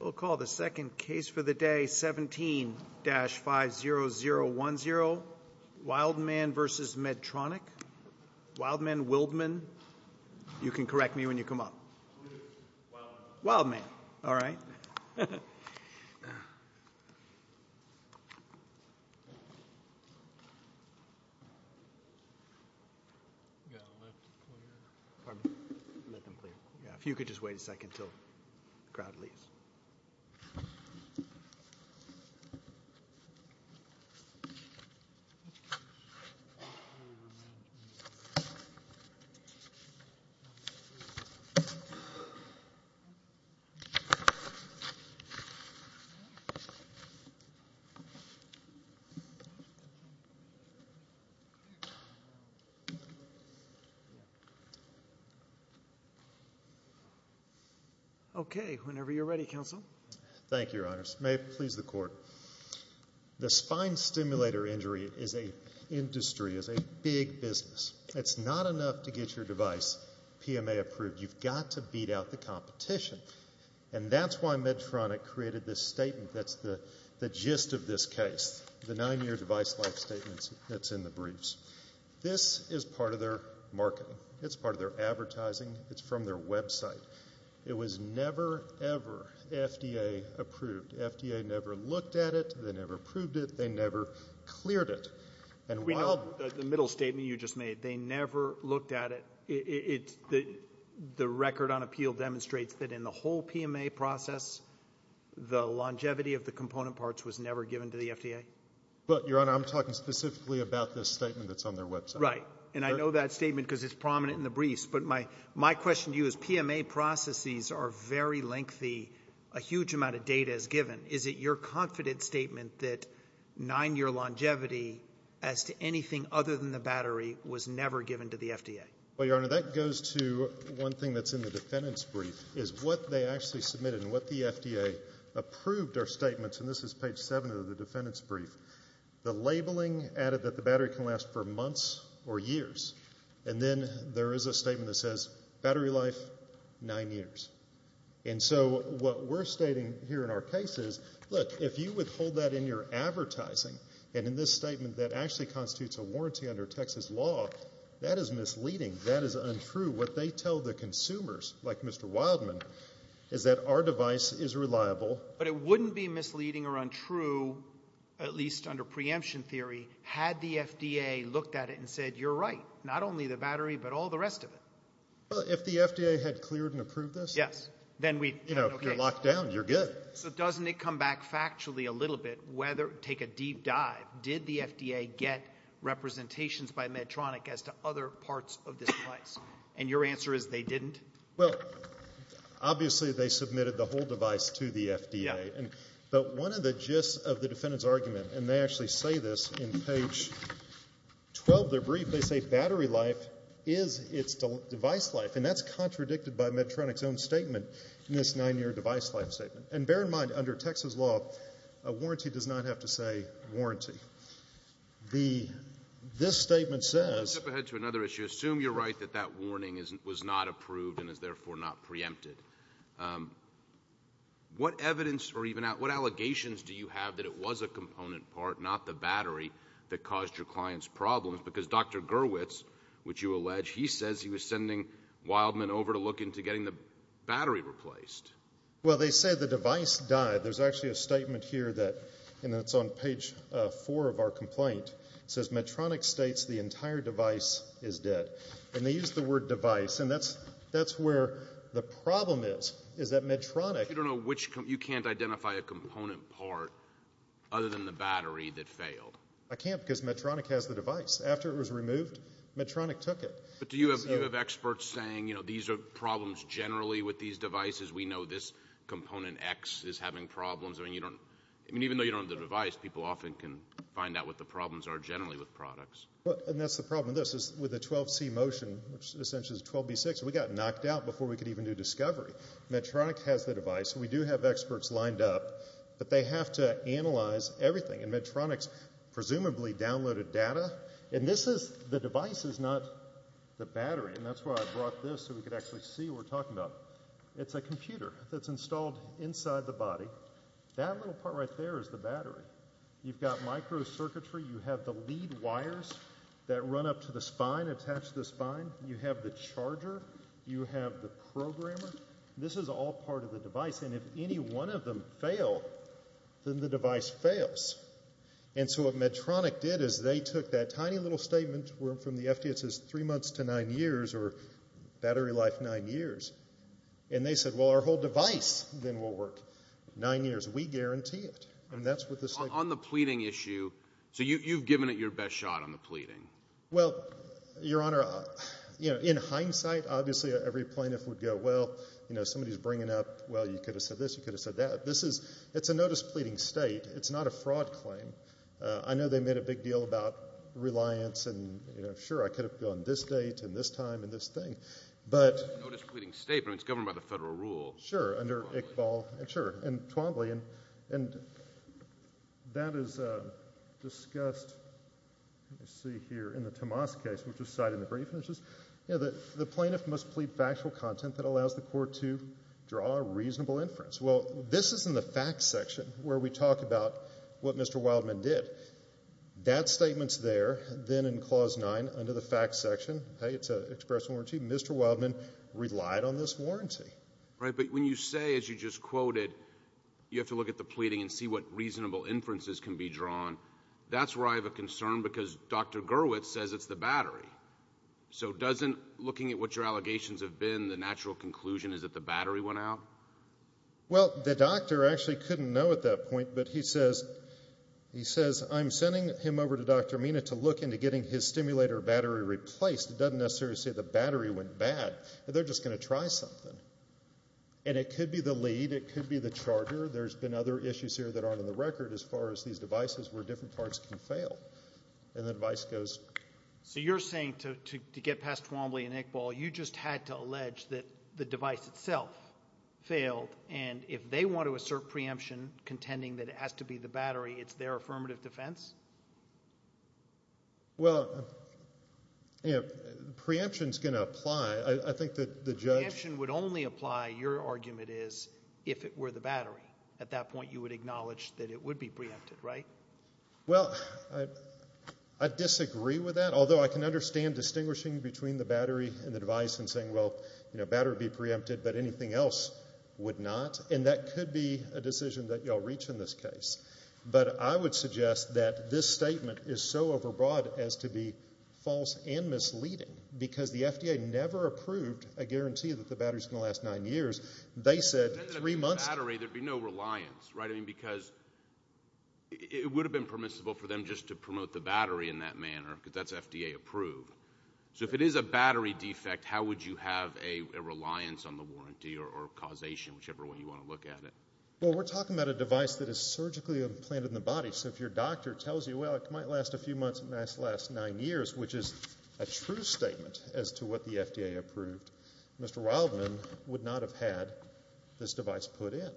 We'll call the second case for the day, 17-50010, Wildman v. Medtronic, Wildman-Wildman, you could just wait a second until the crowd leaves. Okay. Whenever you're ready, counsel. Thank you, your honors. May it please the court. The spine stimulator injury is a industry, is a big business. It's not enough to get your device PMA approved. You've got to beat out the competition. And that's why Medtronic created this statement that's the gist of this case, the nine-year device life statements that's in the briefs. This is part of their marketing. It's part of their advertising. It's from their website. It was never, ever FDA approved. FDA never looked at it. They never approved it. They never cleared it. And while the middle statement you just made, they never looked at it. It's the record on appeal demonstrates that in the whole PMA process, the longevity of the component parts was never given to the FDA. But, your honor, I'm talking specifically about this statement that's on their website. Right. And I know that statement because it's prominent in the briefs. But my question to you is PMA processes are very lengthy. A huge amount of data is given. Is it your confident statement that nine-year longevity as to anything other than the battery was never given to the FDA? Well, your honor, that goes to one thing that's in the defendant's brief is what they actually submitted and what the FDA approved are statements, and this is page 7 of the defendant's brief. The labeling added that the battery can last for months or years. And then there is a statement that says battery life, nine years. And so what we're stating here in our case is, look, if you withhold that in your advertising, and in this statement that actually constitutes a warranty under Texas law, that is misleading. That is untrue. What they tell the consumers, like Mr. Wildman, is that our device is reliable. But it wouldn't be misleading or untrue, at least under preemption theory, had the FDA looked at it and said, you're right, not only the battery but all the rest of it. Well, if the FDA had cleared and approved this? Yes. Then we'd have no case. You know, if you're locked down, you're good. So doesn't it come back factually a little bit, take a deep dive, did the FDA get representations by Medtronic as to other parts of this device? And your answer is they didn't? Well, obviously they submitted the whole device to the FDA. But one of the gist of the defendant's argument, and they actually say this in page 12 of their brief, they say battery life is its device life. And that's contradicted by Medtronic's own statement in this nine-year device life statement. And bear in mind, under Texas law, a warranty does not have to say warranty. This statement says ---- Let's step ahead to another issue. I assume you're right that that warning was not approved and is therefore not preempted. What evidence or even what allegations do you have that it was a component part, not the battery, that caused your client's problems? Because Dr. Gerwitz, which you allege, he says he was sending Wildman over to look into getting the battery replaced. Well, they say the device died. There's actually a statement here that's on page four of our complaint. It says Medtronic states the entire device is dead. And they use the word device. And that's where the problem is, is that Medtronic ---- But you don't know which component. You can't identify a component part other than the battery that failed. I can't because Medtronic has the device. After it was removed, Medtronic took it. But do you have experts saying, you know, these are problems generally with these devices. We know this component X is having problems. I mean, even though you don't have the device, people often can find out what the problems are generally with products. And that's the problem with this, is with the 12C motion, which essentially is 12B6, we got knocked out before we could even do discovery. Medtronic has the device. We do have experts lined up. But they have to analyze everything. And Medtronic's presumably downloaded data. And this is the device, is not the battery. And that's why I brought this so we could actually see what we're talking about. It's a computer that's installed inside the body. That little part right there is the battery. You've got microcircuitry. You have the lead wires that run up to the spine, attach to the spine. You have the charger. You have the programmer. This is all part of the device. And if any one of them fail, then the device fails. And so what Medtronic did is they took that tiny little statement from the FDA that says three months to nine years or battery life nine years, and they said, well, our whole device then will work. Nine years. We guarantee it. And that's what this thing is. On the pleading issue, so you've given it your best shot on the pleading. Well, Your Honor, in hindsight, obviously every plaintiff would go, well, somebody's bringing up, well, you could have said this, you could have said that. It's a notice-pleading state. It's not a fraud claim. I know they made a big deal about reliance and, sure, I could have gone this date and this time and this thing, but. Notice-pleading state, but it's governed by the federal rule. Under Iqbal. Sure. And Twombly. And that is discussed, let me see here, in the Tomas case, which was cited in the brief. And it's just, you know, the plaintiff must plead factual content that allows the court to draw a reasonable inference. Well, this is in the facts section where we talk about what Mr. Wildman did. That statement's there. Then in Clause 9, under the facts section, hey, it's an express warranty. Mr. Wildman relied on this warranty. Right, but when you say, as you just quoted, you have to look at the pleading and see what reasonable inferences can be drawn, that's where I have a concern because Dr. Gurwitz says it's the battery. So doesn't looking at what your allegations have been, the natural conclusion is that the battery went out? Well, the doctor actually couldn't know at that point. But he says, I'm sending him over to Dr. Mina to look into getting his stimulator battery replaced. It doesn't necessarily say the battery went bad. They're just going to try something. And it could be the lead, it could be the charter. There's been other issues here that aren't on the record as far as these devices where different parts can fail. And the device goes. So you're saying to get past Twombly and Iqbal, you just had to allege that the device itself failed, and if they want to assert preemption contending that it has to be the battery, it's their affirmative defense? Well, preemption is going to apply. I think that the judge – Preemption would only apply, your argument is, if it were the battery. At that point you would acknowledge that it would be preempted, right? Well, I disagree with that, although I can understand distinguishing between the battery and the device and saying, well, the battery would be preempted but anything else would not, and that could be a decision that you'll reach in this case. But I would suggest that this statement is so overbroad as to be false and misleading because the FDA never approved a guarantee that the battery is going to last nine years. They said three months – If it had been the battery, there would be no reliance, right? I mean, because it would have been permissible for them just to promote the battery in that manner because that's FDA approved. So if it is a battery defect, how would you have a reliance on the warranty or causation, whichever way you want to look at it? Well, we're talking about a device that is surgically implanted in the body, so if your doctor tells you, well, it might last a few months, it might last nine years, which is a true statement as to what the FDA approved, Mr. Wildman would not have had this device put in.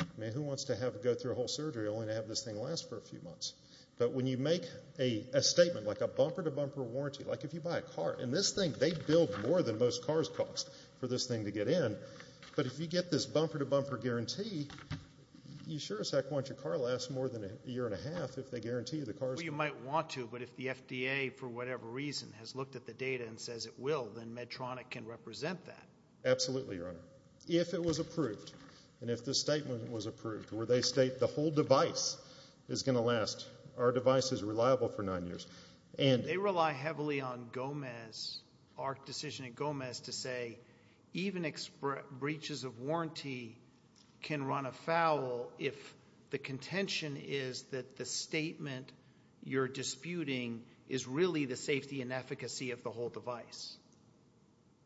I mean, who wants to go through a whole surgery only to have this thing last for a few months? But when you make a statement like a bumper-to-bumper warranty, like if you buy a car, and this thing, they bill more than most cars cost for this thing to get in, but if you get this bumper-to-bumper guarantee, you sure as heck want your car to last more than a year and a half if they guarantee you the car is going to last. Well, you might want to, but if the FDA, for whatever reason, has looked at the data and says it will, then Medtronic can represent that. Absolutely, Your Honor. If it was approved and if the statement was approved where they state the whole device is going to last, our device is reliable for nine years. They rely heavily on Gomez, AHRQ decision at Gomez, to say even breaches of warranty can run afoul if the contention is that the statement you're disputing is really the safety and efficacy of the whole device.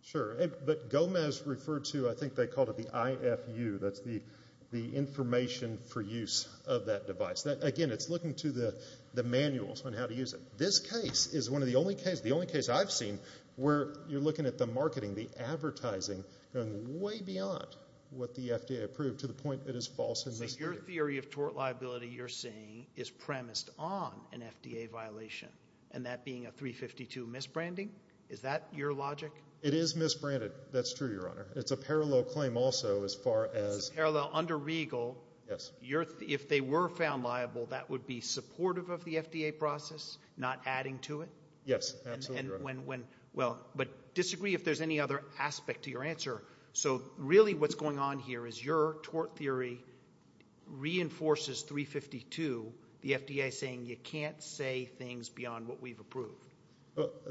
Sure, but Gomez referred to, I think they called it the IFU, that's the information for use of that device. Again, it's looking to the manuals on how to use it. This case is one of the only cases, the only case I've seen, where you're looking at the marketing, the advertising, going way beyond what the FDA approved to the point it is false and misleading. So your theory of tort liability you're saying is premised on an FDA violation, and that being a 352 misbranding? Is that your logic? It is misbranded. That's true, Your Honor. It's a parallel claim also as far as... It's a parallel under Regal. If they were found liable, that would be supportive of the FDA process, not adding to it? Yes, absolutely. But disagree if there's any other aspect to your answer. So really what's going on here is your tort theory reinforces 352, the FDA saying you can't say things beyond what we've approved.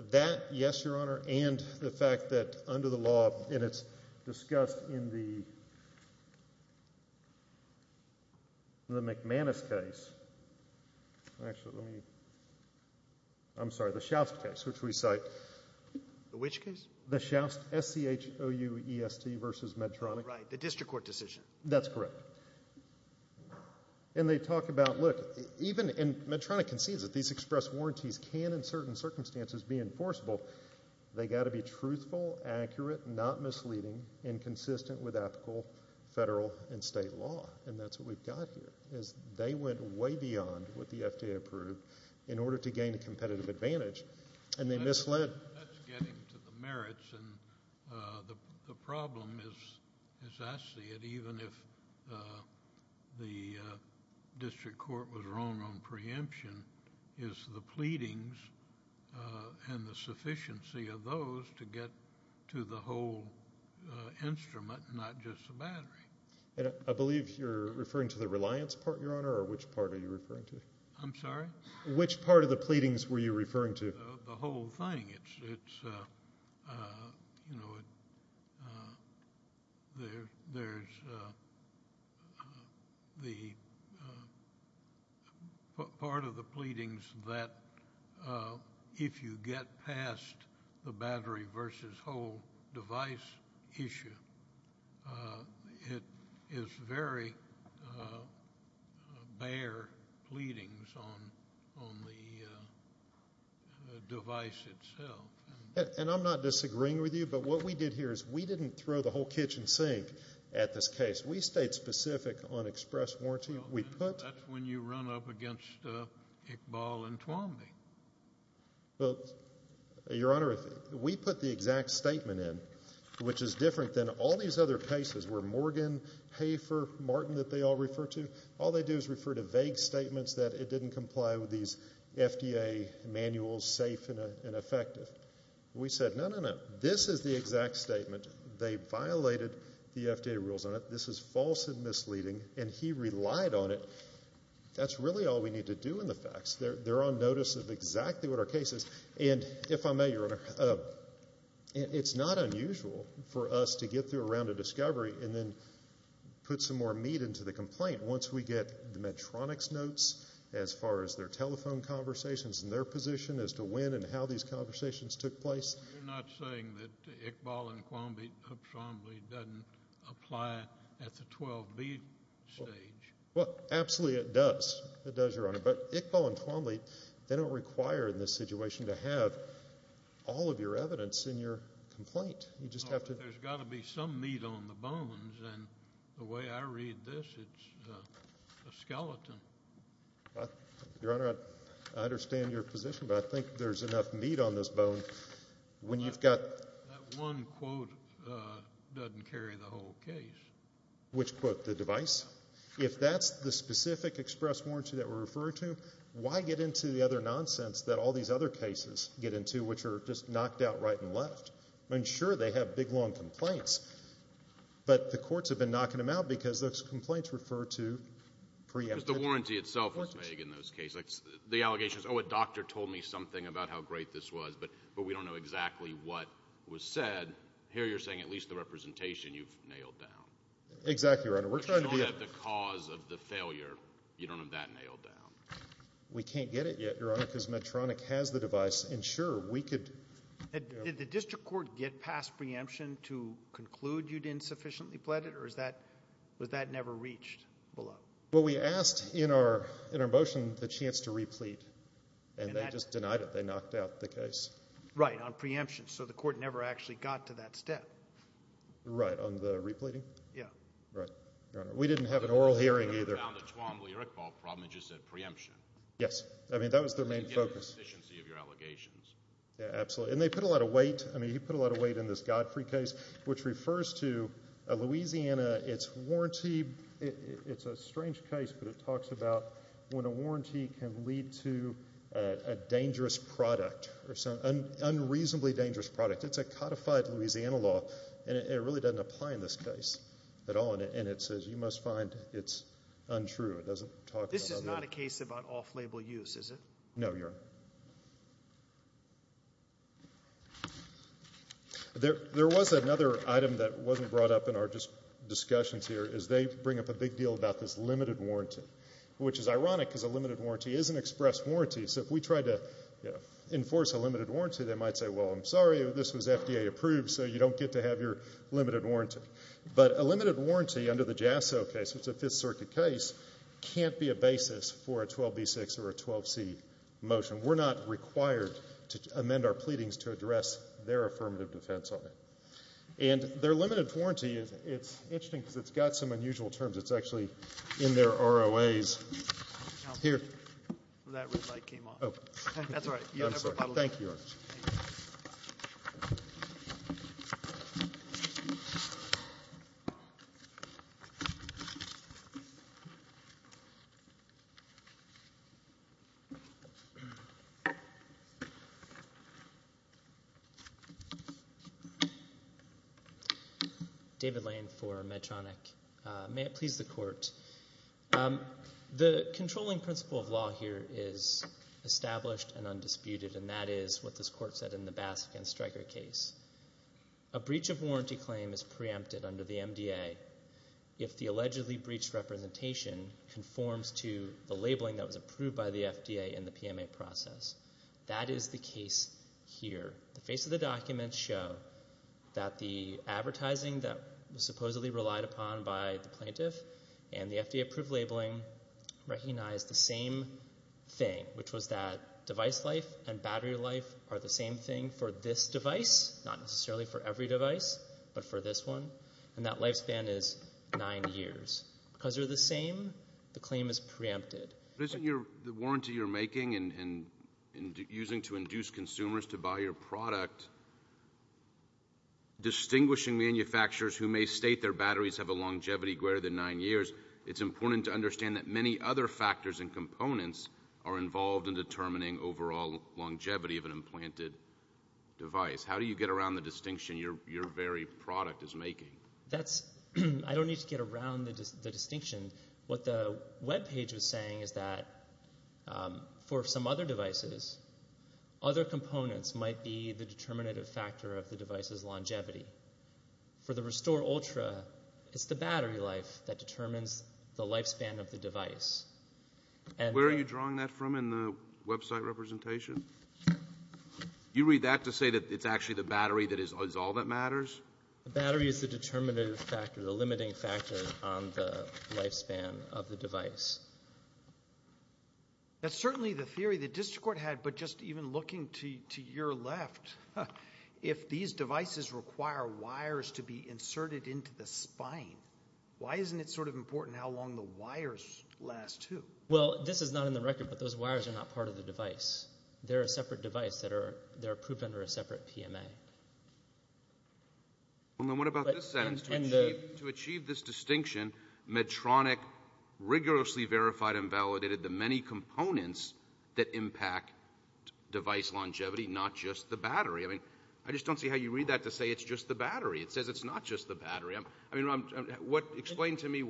That, yes, Your Honor, and the fact that under the law, and it's discussed in the McManus case. Actually, let me... I'm sorry, the Schaust case, which we cite. Which case? The Schaust, S-C-H-O-U-E-S-T versus Medtronic. Right, the district court decision. That's correct. And they talk about, look, and Medtronic concedes that these express warranties can, in certain circumstances, be enforceable. They've got to be truthful, accurate, not misleading, and consistent with applicable federal and state law, and that's what we've got here is they went way beyond what the FDA approved in order to gain a competitive advantage, and they misled. That's getting to the merits, and the problem is, as I see it, even if the district court was wrong on preemption, is the pleadings and the sufficiency of those to get to the whole instrument, not just the battery. I believe you're referring to the reliance part, Your Honor, or which part are you referring to? I'm sorry? Which part of the pleadings were you referring to? The whole thing. It's, you know, there's the part of the pleadings that if you get past the battery And I'm not disagreeing with you, but what we did here is we didn't throw the whole kitchen sink at this case. We stayed specific on express warranty. That's when you run up against Iqbal and Twombly. Well, Your Honor, we put the exact statement in, which is different than all these other cases where Morgan, Hafer, Martin that they all refer to, all they do is refer to vague statements that it didn't comply with these FDA manuals, that it was safe and effective. We said, no, no, no, this is the exact statement. They violated the FDA rules on it. This is false and misleading, and he relied on it. That's really all we need to do in the facts. They're on notice of exactly what our case is. And if I may, Your Honor, it's not unusual for us to get through a round of discovery and then put some more meat into the complaint. Once we get the Medtronic's notes as far as their telephone conversations and their position as to when and how these conversations took place. You're not saying that Iqbal and Twombly doesn't apply at the 12B stage? Well, absolutely it does. It does, Your Honor. But Iqbal and Twombly, they don't require in this situation to have all of your evidence in your complaint. There's got to be some meat on the bones. And the way I read this, it's a skeleton. Your Honor, I understand your position, but I think there's enough meat on this bone when you've got... That one quote doesn't carry the whole case. Which quote? The device? If that's the specific express warranty that we're referring to, why get into the other nonsense that all these other cases get into which are just knocked out right and left? I mean, sure, they have big, long complaints, but the courts have been knocking them out because those complaints refer to preemptive... The warranty itself is vague in those cases. The allegation is, oh, a doctor told me something about how great this was, but we don't know exactly what was said. Here you're saying at least the representation you've nailed down. Exactly, Your Honor. We're trying to be... The cause of the failure, you don't have that nailed down. We can't get it yet, Your Honor, because Medtronic has the device, and sure, we could... Did the district court get past preemption to conclude you'd insufficiently pled it, or was that never reached below? Well, we asked in our motion the chance to replete, and they just denied it. They knocked out the case. Right, on preemption, so the court never actually got to that step. Right, on the repleting? Yeah. Right, Your Honor. We didn't have an oral hearing either. They found a Tuamli-Irqbal problem and just said preemption. Yes, I mean, that was their main focus. They didn't get the efficiency of your allegations. Yeah, absolutely, and they put a lot of weight. I mean, you put a lot of weight in this Godfrey case, which refers to a Louisiana, it's a strange case, but it talks about when a warranty can lead to a dangerous product or some unreasonably dangerous product. It's a codified Louisiana law, and it really doesn't apply in this case at all, and it says you must find it's untrue. This is not a case about off-label use, is it? No, Your Honor. There was another item that wasn't brought up in our discussions here, is they bring up a big deal about this limited warranty, which is ironic because a limited warranty is an express warranty. So if we tried to enforce a limited warranty, they might say, well, I'm sorry, this was FDA approved, so you don't get to have your limited warranty. But a limited warranty under the JASO case, which is a Fifth Circuit case, can't be a basis for a 12b-6 or a 12c motion. We're not required to amend our pleadings to address their affirmative defense on it. And their limited warranty, it's interesting because it's got some unusual terms. It's actually in their ROAs. That red light came on. That's all right. Thank you, Your Honor. David Lane for Medtronic. The controlling principle of law here is established and undisputed, and that is what this Court said in the Bass against Stryker case. A breach of warranty claim is preempted under the MDA if the allegedly breached representation conforms to the labeling that was approved by the FDA in the PMA process. That is the case here. The face of the documents show that the advertising that was supposedly relied upon by the plaintiff and the FDA-approved labeling recognize the same thing, which was that device life and battery life are the same thing for this device, not necessarily for every device, but for this one, and that lifespan is nine years. Because they're the same, the claim is preempted. But isn't the warranty you're making and using to induce consumers to buy your product distinguishing manufacturers who may state their batteries have a longevity greater than nine years, it's important to understand that many other factors and components are involved in determining overall longevity of an implanted device. How do you get around the distinction your very product is making? I don't need to get around the distinction. What the web page was saying is that for some other devices, other components might be the determinative factor of the device's longevity. For the Restore Ultra, it's the battery life that determines the lifespan of the device. And where are you drawing that from in the website representation? You read that to say that it's actually the battery that is all that matters? The battery is the determinative factor, the limiting factor on the lifespan of the device. That's certainly the theory the district court had, but just even looking to your left, if these devices require wires to be inserted into the spine, why isn't it sort of important how long the wires last, too? Well, this is not in the record, but those wires are not part of the device. They're a separate device that are approved under a separate PMA. Well, then what about this sentence? To achieve this distinction, Medtronic rigorously verified and validated the many components that impact device longevity, not just the battery. I just don't see how you read that to say it's just the battery. It says it's not just the battery. Explain to me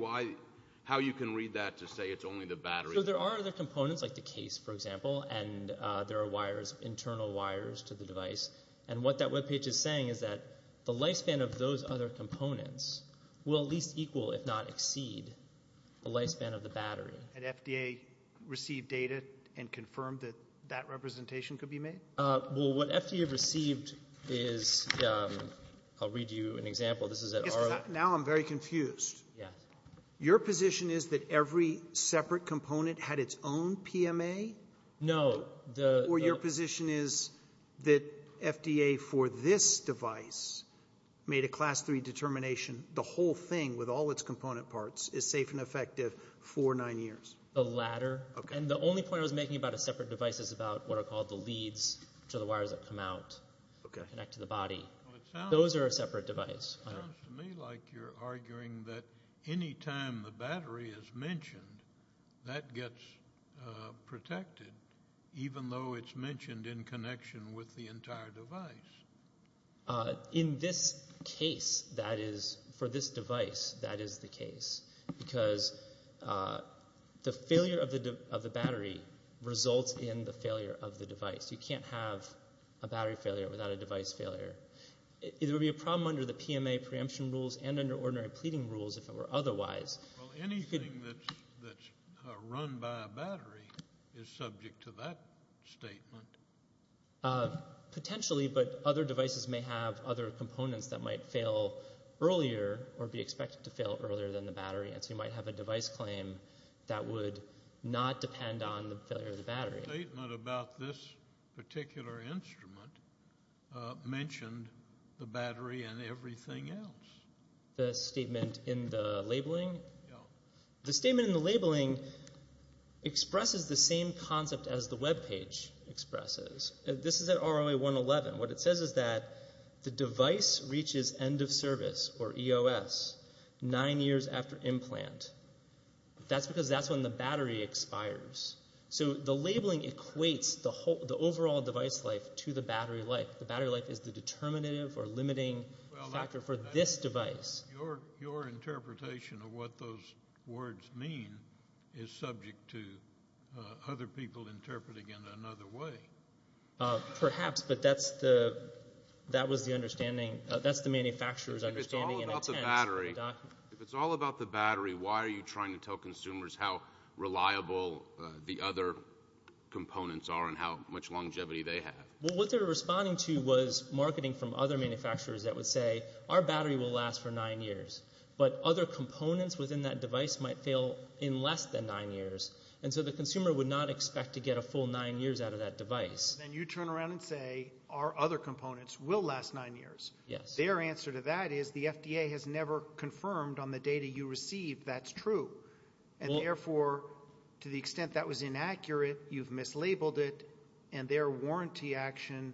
how you can read that to say it's only the battery. There are other components, like the case, for example, and there are internal wires to the device. And what that webpage is saying is that the lifespan of those other components will at least equal, if not exceed, the lifespan of the battery. Had FDA received data and confirmed that that representation could be made? Well, what FDA received is, I'll read you an example. Now I'm very confused. Your position is that every separate component had its own PMA? No. Or your position is that FDA, for this device, made a Class III determination, the whole thing with all its component parts is safe and effective for nine years? The latter. And the only point I was making about a separate device is about what are called the leads, which are the wires that come out, connect to the body. Those are a separate device. It sounds to me like you're arguing that any time the battery is mentioned, that gets protected, even though it's mentioned in connection with the entire device. In this case, that is, for this device, that is the case, because the failure of the battery results in the failure of the device. You can't have a battery failure without a device failure. It would be a problem under the PMA preemption rules and under ordinary pleading rules if it were otherwise. Well, anything that's run by a battery is subject to that statement. Potentially, but other devices may have other components that might fail earlier or be expected to fail earlier than the battery, and so you might have a device claim that would not depend on the failure of the battery. The statement about this particular instrument mentioned the battery and everything else. The statement in the labeling? Yeah. This is an ROA-111. What it says is that the device reaches end of service, or EOS, nine years after implant. That's because that's when the battery expires. So the labeling equates the overall device life to the battery life. The battery life is the determinative or limiting factor for this device. Your interpretation of what those words mean is subject to other people interpreting it another way. Perhaps, but that's the manufacturer's understanding. If it's all about the battery, why are you trying to tell consumers how reliable the other components are and how much longevity they have? Well, what they were responding to was marketing from other manufacturers that would say, our battery will last for nine years, but other components within that device might fail in less than nine years, and so the consumer would not expect to get a full nine years out of that device. Then you turn around and say, our other components will last nine years. Their answer to that is the FDA has never confirmed on the data you received that's true, and therefore, to the extent that was inaccurate, you've mislabeled it, and their warranty action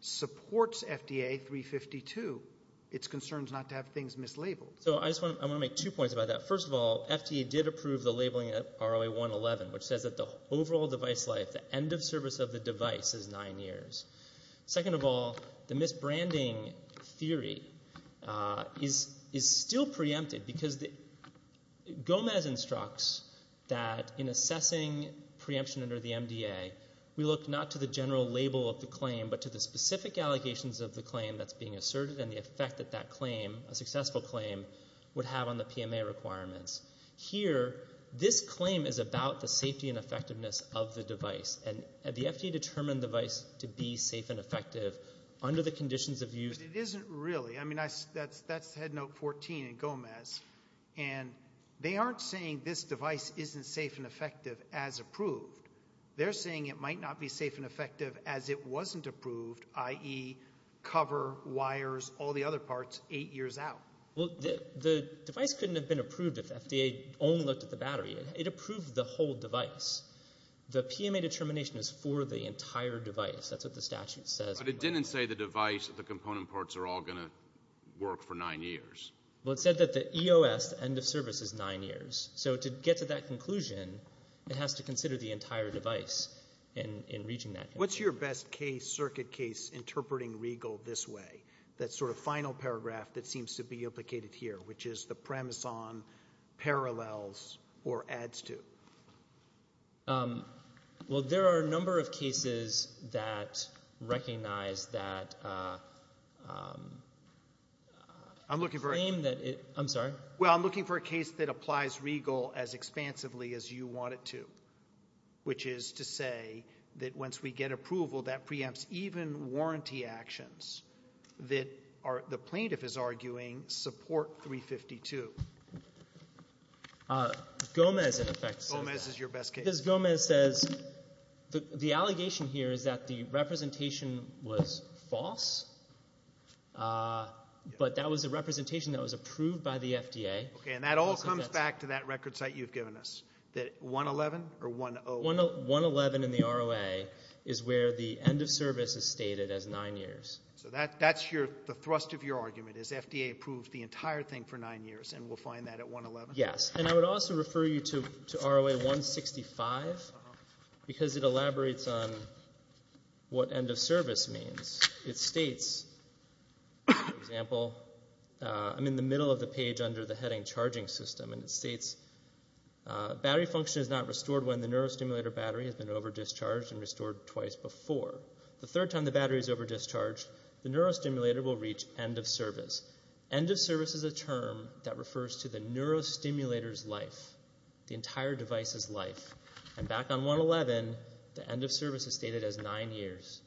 supports FDA 352. It's concerned not to have things mislabeled. So I want to make two points about that. First of all, FDA did approve the labeling of ROA-111, which says that the overall device life, the end of service of the device, is nine years. Second of all, the misbranding theory is still preempted because Gomez instructs that in assessing preemption under the MDA, we look not to the general label of the claim but to the specific allegations of the claim that's being asserted and the effect that that claim, a successful claim, would have on the PMA requirements. Here, this claim is about the safety and effectiveness of the device, and the FDA determined the device to be safe and effective under the conditions of use. But it isn't really. I mean, that's head note 14 in Gomez, and they aren't saying this device isn't safe and effective as approved. They're saying it might not be safe and effective as it wasn't approved, i.e., cover, wires, all the other parts, eight years out. Well, the device couldn't have been approved if FDA only looked at the battery. It approved the whole device. The PMA determination is for the entire device. That's what the statute says. But it didn't say the device, the component parts are all going to work for nine years. Well, it said that the EOS, the end of service, is nine years. So to get to that conclusion, it has to consider the entire device in reaching that conclusion. What's your best case, circuit case, interpreting Regal this way, that sort of final paragraph that seems to be implicated here, which is the premise on parallels or adds to? Well, there are a number of cases that recognize that claim that it — I'm looking for — I'm sorry? Well, I'm looking for a case that applies Regal as expansively as you want it to, which is to say that once we get approval, that preempts even warranty actions that the plaintiff is arguing support 352. Gomez, in effect, says — Gomez is your best case. Because Gomez says the allegation here is that the representation was false, but that was a representation that was approved by the FDA. Okay, and that all comes back to that record site you've given us, that 111 or 10? 111 in the ROA is where the end of service is stated as nine years. So that's your — the thrust of your argument is FDA approved the entire thing for nine years, and we'll find that at 111? Yes, and I would also refer you to ROA 165 because it elaborates on what end of service means. It states, for example — I'm in the middle of the page under the heading charging system, and it states battery function is not restored when the neurostimulator battery has been over-discharged and restored twice before. The third time the battery is over-discharged, the neurostimulator will reach end of service. End of service is a term that refers to the neurostimulator's life, the entire device's life. And back on 111, the end of service is stated as nine years,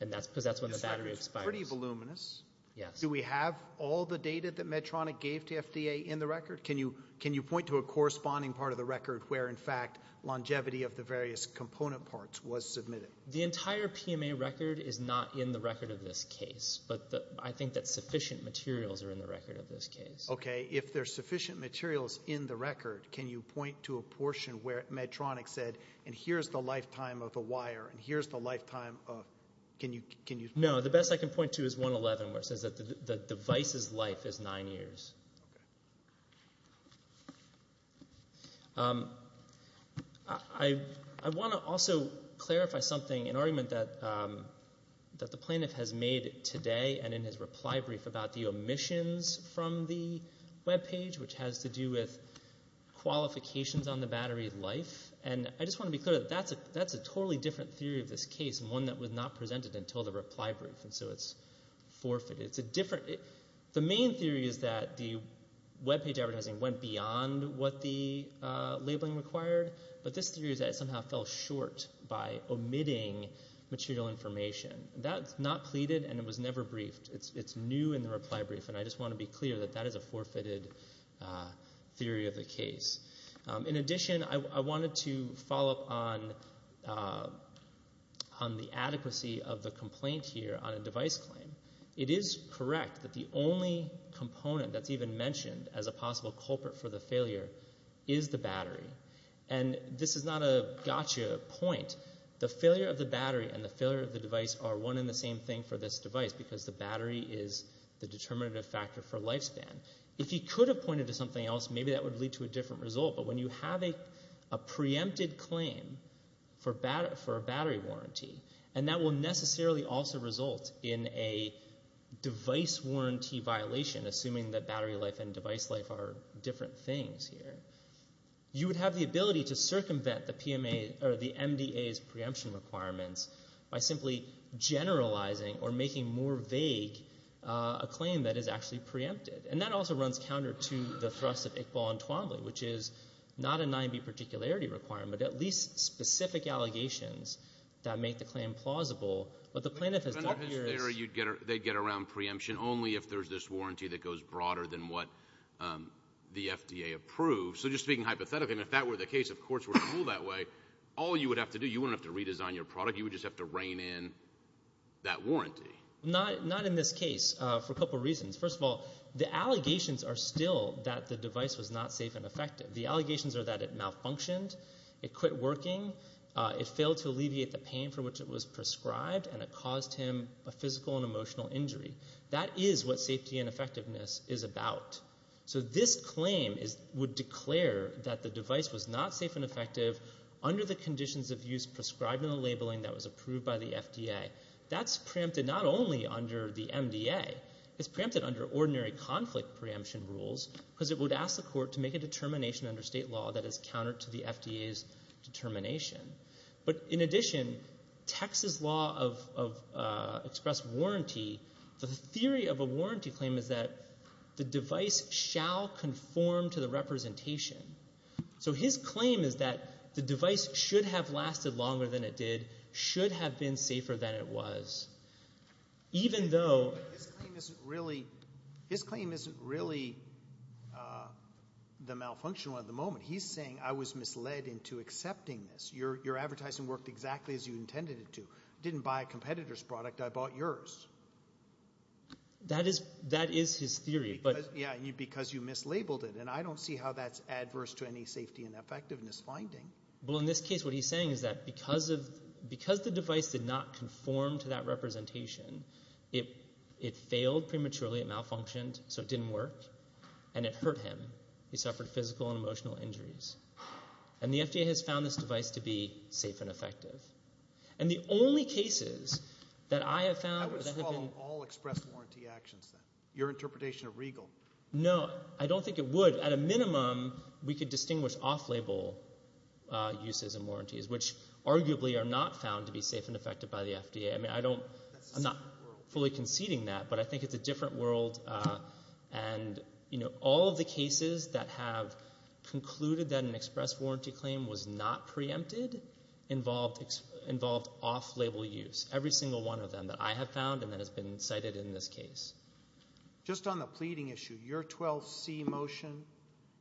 because that's when the battery expires. It's pretty voluminous. Yes. Do we have all the data that Medtronic gave to FDA in the record? Can you point to a corresponding part of the record where, in fact, longevity of the various component parts was submitted? The entire PMA record is not in the record of this case, but I think that sufficient materials are in the record of this case. Okay. If there's sufficient materials in the record, can you point to a portion where Medtronic said, and here's the lifetime of the wire, and here's the lifetime of — can you? No. The best I can point to is 111, where it says that the device's life is nine years. Okay. I want to also clarify something, an argument that the plaintiff has made today and in his reply brief about the omissions from the webpage, which has to do with qualifications on the battery life. And I just want to be clear that that's a totally different theory of this case and one that was not presented until the reply brief, and so it's forfeited. The main theory is that the webpage advertising went beyond what the labeling required, but this theory is that it somehow fell short by omitting material information. That's not pleaded, and it was never briefed. It's new in the reply brief, and I just want to be clear that that is a forfeited theory of the case. In addition, I wanted to follow up on the adequacy of the complaint here on a device claim. It is correct that the only component that's even mentioned as a possible culprit for the failure is the battery, and this is not a gotcha point. The failure of the battery and the failure of the device are one and the same thing for this device because the battery is the determinative factor for lifespan. If he could have pointed to something else, maybe that would lead to a different result, but when you have a preempted claim for a battery warranty, and that will necessarily also result in a device warranty violation, assuming that battery life and device life are different things here, you would have the ability to circumvent the MDA's preemption requirements by simply generalizing or making more vague a claim that is actually preempted, and that also runs counter to the thrust of Iqbal and Twombly, which is not a 9B particularity requirement, but at least specific allegations that make the claim plausible. What the plaintiff has done here is they get around preemption only if there's this warranty that goes broader than what the FDA approves. So just speaking hypothetically, if that were the case, of course we're going to rule that way. All you would have to do, you wouldn't have to redesign your product. You would just have to rein in that warranty. Not in this case for a couple reasons. First of all, the allegations are still that the device was not safe and effective. The allegations are that it malfunctioned, it quit working, it failed to alleviate the pain for which it was prescribed, and it caused him a physical and emotional injury. That is what safety and effectiveness is about. So this claim would declare that the device was not safe and effective under the conditions of use prescribed in the labeling that was approved by the FDA. That's preempted not only under the MDA. It's preempted under ordinary conflict preemption rules because it would ask the court to make a determination under state law that is counter to the FDA's determination. But in addition, Texas law of expressed warranty, the theory of a warranty claim is that the device shall conform to the representation. So his claim is that the device should have lasted longer than it did, should have been safer than it was. His claim isn't really the malfunction one at the moment. He's saying I was misled into accepting this. Your advertising worked exactly as you intended it to. I didn't buy a competitor's product. I bought yours. That is his theory. Because you mislabeled it. And I don't see how that's adverse to any safety and effectiveness finding. Well, in this case, what he's saying is that because the device did not conform to that representation, it failed prematurely, it malfunctioned, so it didn't work. And it hurt him. He suffered physical and emotional injuries. And the FDA has found this device to be safe and effective. And the only cases that I have found... I would swallow all expressed warranty actions then. Your interpretation of regal. No, I don't think it would. At a minimum, we could distinguish off-label uses and warranties, which arguably are not found to be safe and effective by the FDA. I mean, I'm not fully conceding that, but I think it's a different world. And all of the cases that have concluded that an expressed warranty claim was not preempted involved off-label use, every single one of them that I have found and that has been cited in this case. Just on the pleading issue, your 12C motion,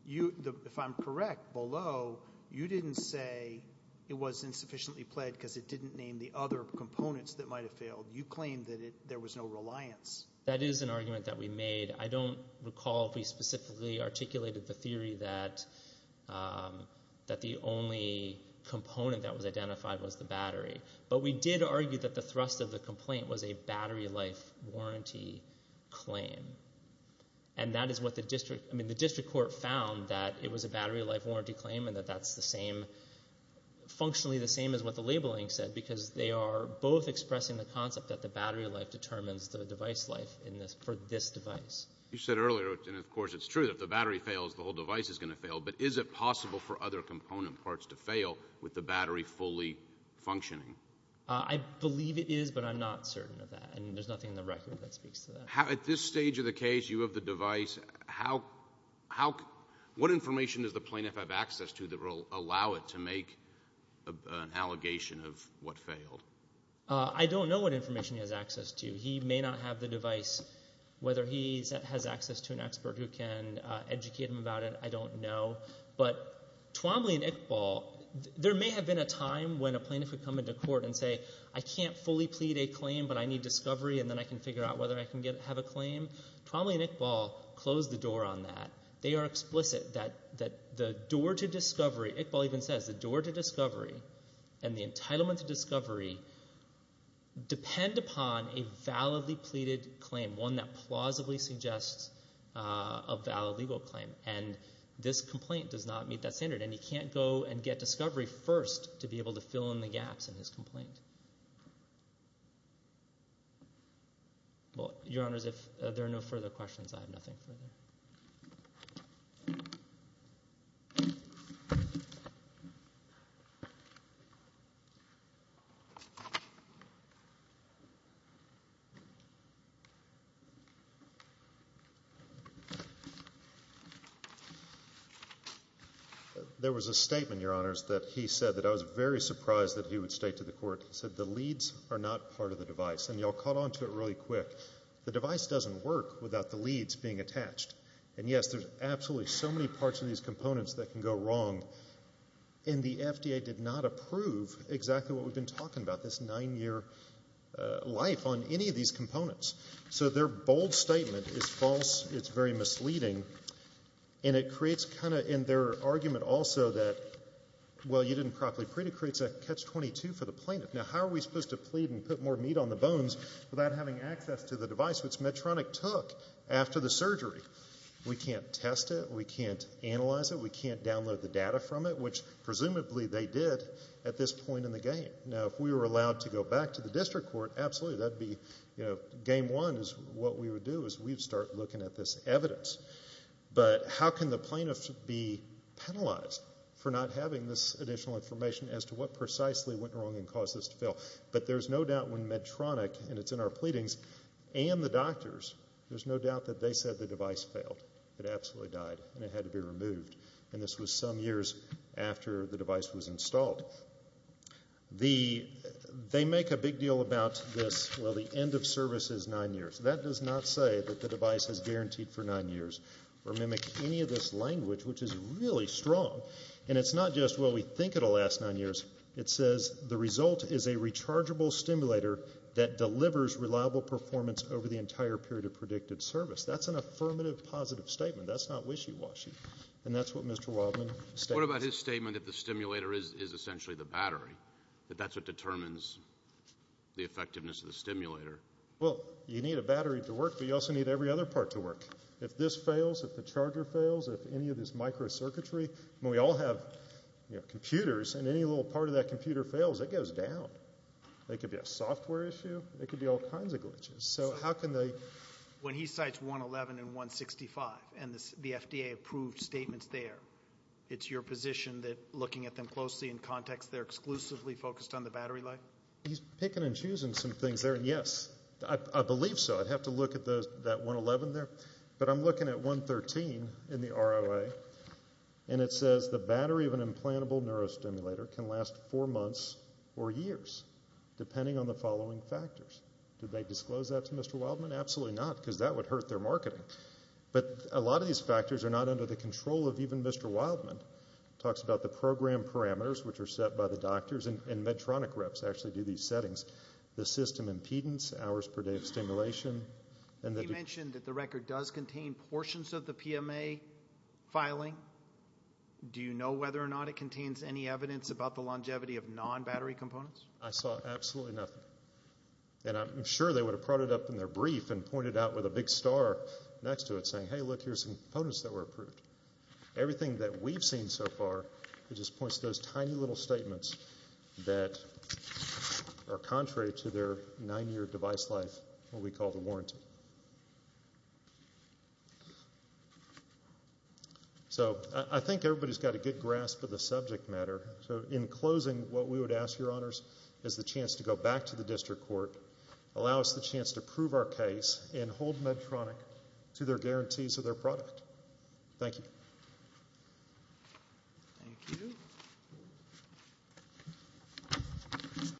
if I'm correct, below, you didn't say it was insufficiently pled because it didn't name the other components that might have failed. You claimed that there was no reliance. That is an argument that we made. I don't recall if we specifically articulated the theory that the only component that was identified was the battery. But we did argue that the thrust of the complaint was a battery life warranty claim. And that is what the district court found, that it was a battery life warranty claim and that that's the same, functionally the same as what the labeling said because they are both expressing the concept that the battery life determines the device life for this device. You said earlier, and of course it's true, that if the battery fails, the whole device is going to fail. But is it possible for other component parts to fail with the battery fully functioning? I believe it is, but I'm not certain of that. And there's nothing in the record that speaks to that. At this stage of the case, you have the device. What information does the plaintiff have access to that will allow it to make an allegation of what failed? I don't know what information he has access to. He may not have the device. Whether he has access to an expert who can educate him about it, I don't know. But Twombly and Iqbal, there may have been a time when a plaintiff would come into court and say, I can't fully plead a claim, but I need discovery and then I can figure out whether I can have a claim. Twombly and Iqbal closed the door on that. They are explicit that the door to discovery, Iqbal even says, the door to discovery and the entitlement to discovery depend upon a validly pleaded claim, one that plausibly suggests a valid legal claim. And this complaint does not meet that standard. And he can't go and get discovery first to be able to fill in the gaps in his complaint. Your Honors, if there are no further questions, I have nothing further. There was a statement, Your Honors, that he said that I was very surprised that he would state to the court, he said the leads are not part of the device. And you all caught on to it really quick. The device doesn't work without the leads being attached. And yes, there's absolutely so many parts of these components that can go wrong. And the FDA did not approve exactly what we've been talking about, this nine-year life on any of these components. So their bold statement is false, it's very misleading, and it creates kind of in their argument also that, well, you didn't properly plead, it creates a catch-22 for the plaintiff. Now, how are we supposed to plead and put more meat on the bones without having access to the device, which Medtronic took after the surgery? We can't test it, we can't analyze it, we can't download the data from it, which presumably they did at this point in the game. Now, if we were allowed to go back to the district court, absolutely, game one is what we would do is we'd start looking at this evidence. But how can the plaintiff be penalized for not having this additional information as to what precisely went wrong and caused this to fail? But there's no doubt when Medtronic, and it's in our pleadings, and the doctors, there's no doubt that they said the device failed, it absolutely died, and it had to be removed. And this was some years after the device was installed. They make a big deal about this, well, the end of service is nine years. That does not say that the device is guaranteed for nine years or mimic any of this language, which is really strong. And it's not just, well, we think it'll last nine years, it says the result is a rechargeable stimulator that delivers reliable performance over the entire period of predicted service. That's an affirmative positive statement. That's not wishy-washy, and that's what Mr. Wildman states. What about his statement that the stimulator is essentially the battery, that that's what determines the effectiveness of the stimulator? Well, you need a battery to work, but you also need every other part to work. If this fails, if the charger fails, if any of this microcircuitry, when we all have computers and any little part of that computer fails, it goes down. It could be a software issue, it could be all kinds of glitches. So how can they? When he cites 111 and 165 and the FDA approved statements there, it's your position that looking at them closely in context, they're exclusively focused on the battery life? He's picking and choosing some things there. Yes, I believe so. I'd have to look at that 111 there. But I'm looking at 113 in the ROA, and it says the battery of an implantable neurostimulator can last four months or years depending on the following factors. Do they disclose that to Mr. Wildman? Absolutely not, because that would hurt their marketing. But a lot of these factors are not under the control of even Mr. Wildman. It talks about the program parameters, which are set by the doctors, and Medtronic reps actually do these settings, the system impedance, hours per day of stimulation. You mentioned that the record does contain portions of the PMA filing. Do you know whether or not it contains any evidence about the longevity of non-battery components? I saw absolutely nothing. And I'm sure they would have brought it up in their brief and pointed out with a big star next to it saying, hey, look, here's some components that were approved. Everything that we've seen so far, it just points to those tiny little statements that are contrary to their nine-year device life, what we call the warranty. So I think everybody's got a good grasp of the subject matter. So in closing, what we would ask, Your Honors, is the chance to go back to the district court, allow us the chance to prove our case, and hold Medtronic to their guarantees of their product. Thank you. Thank you.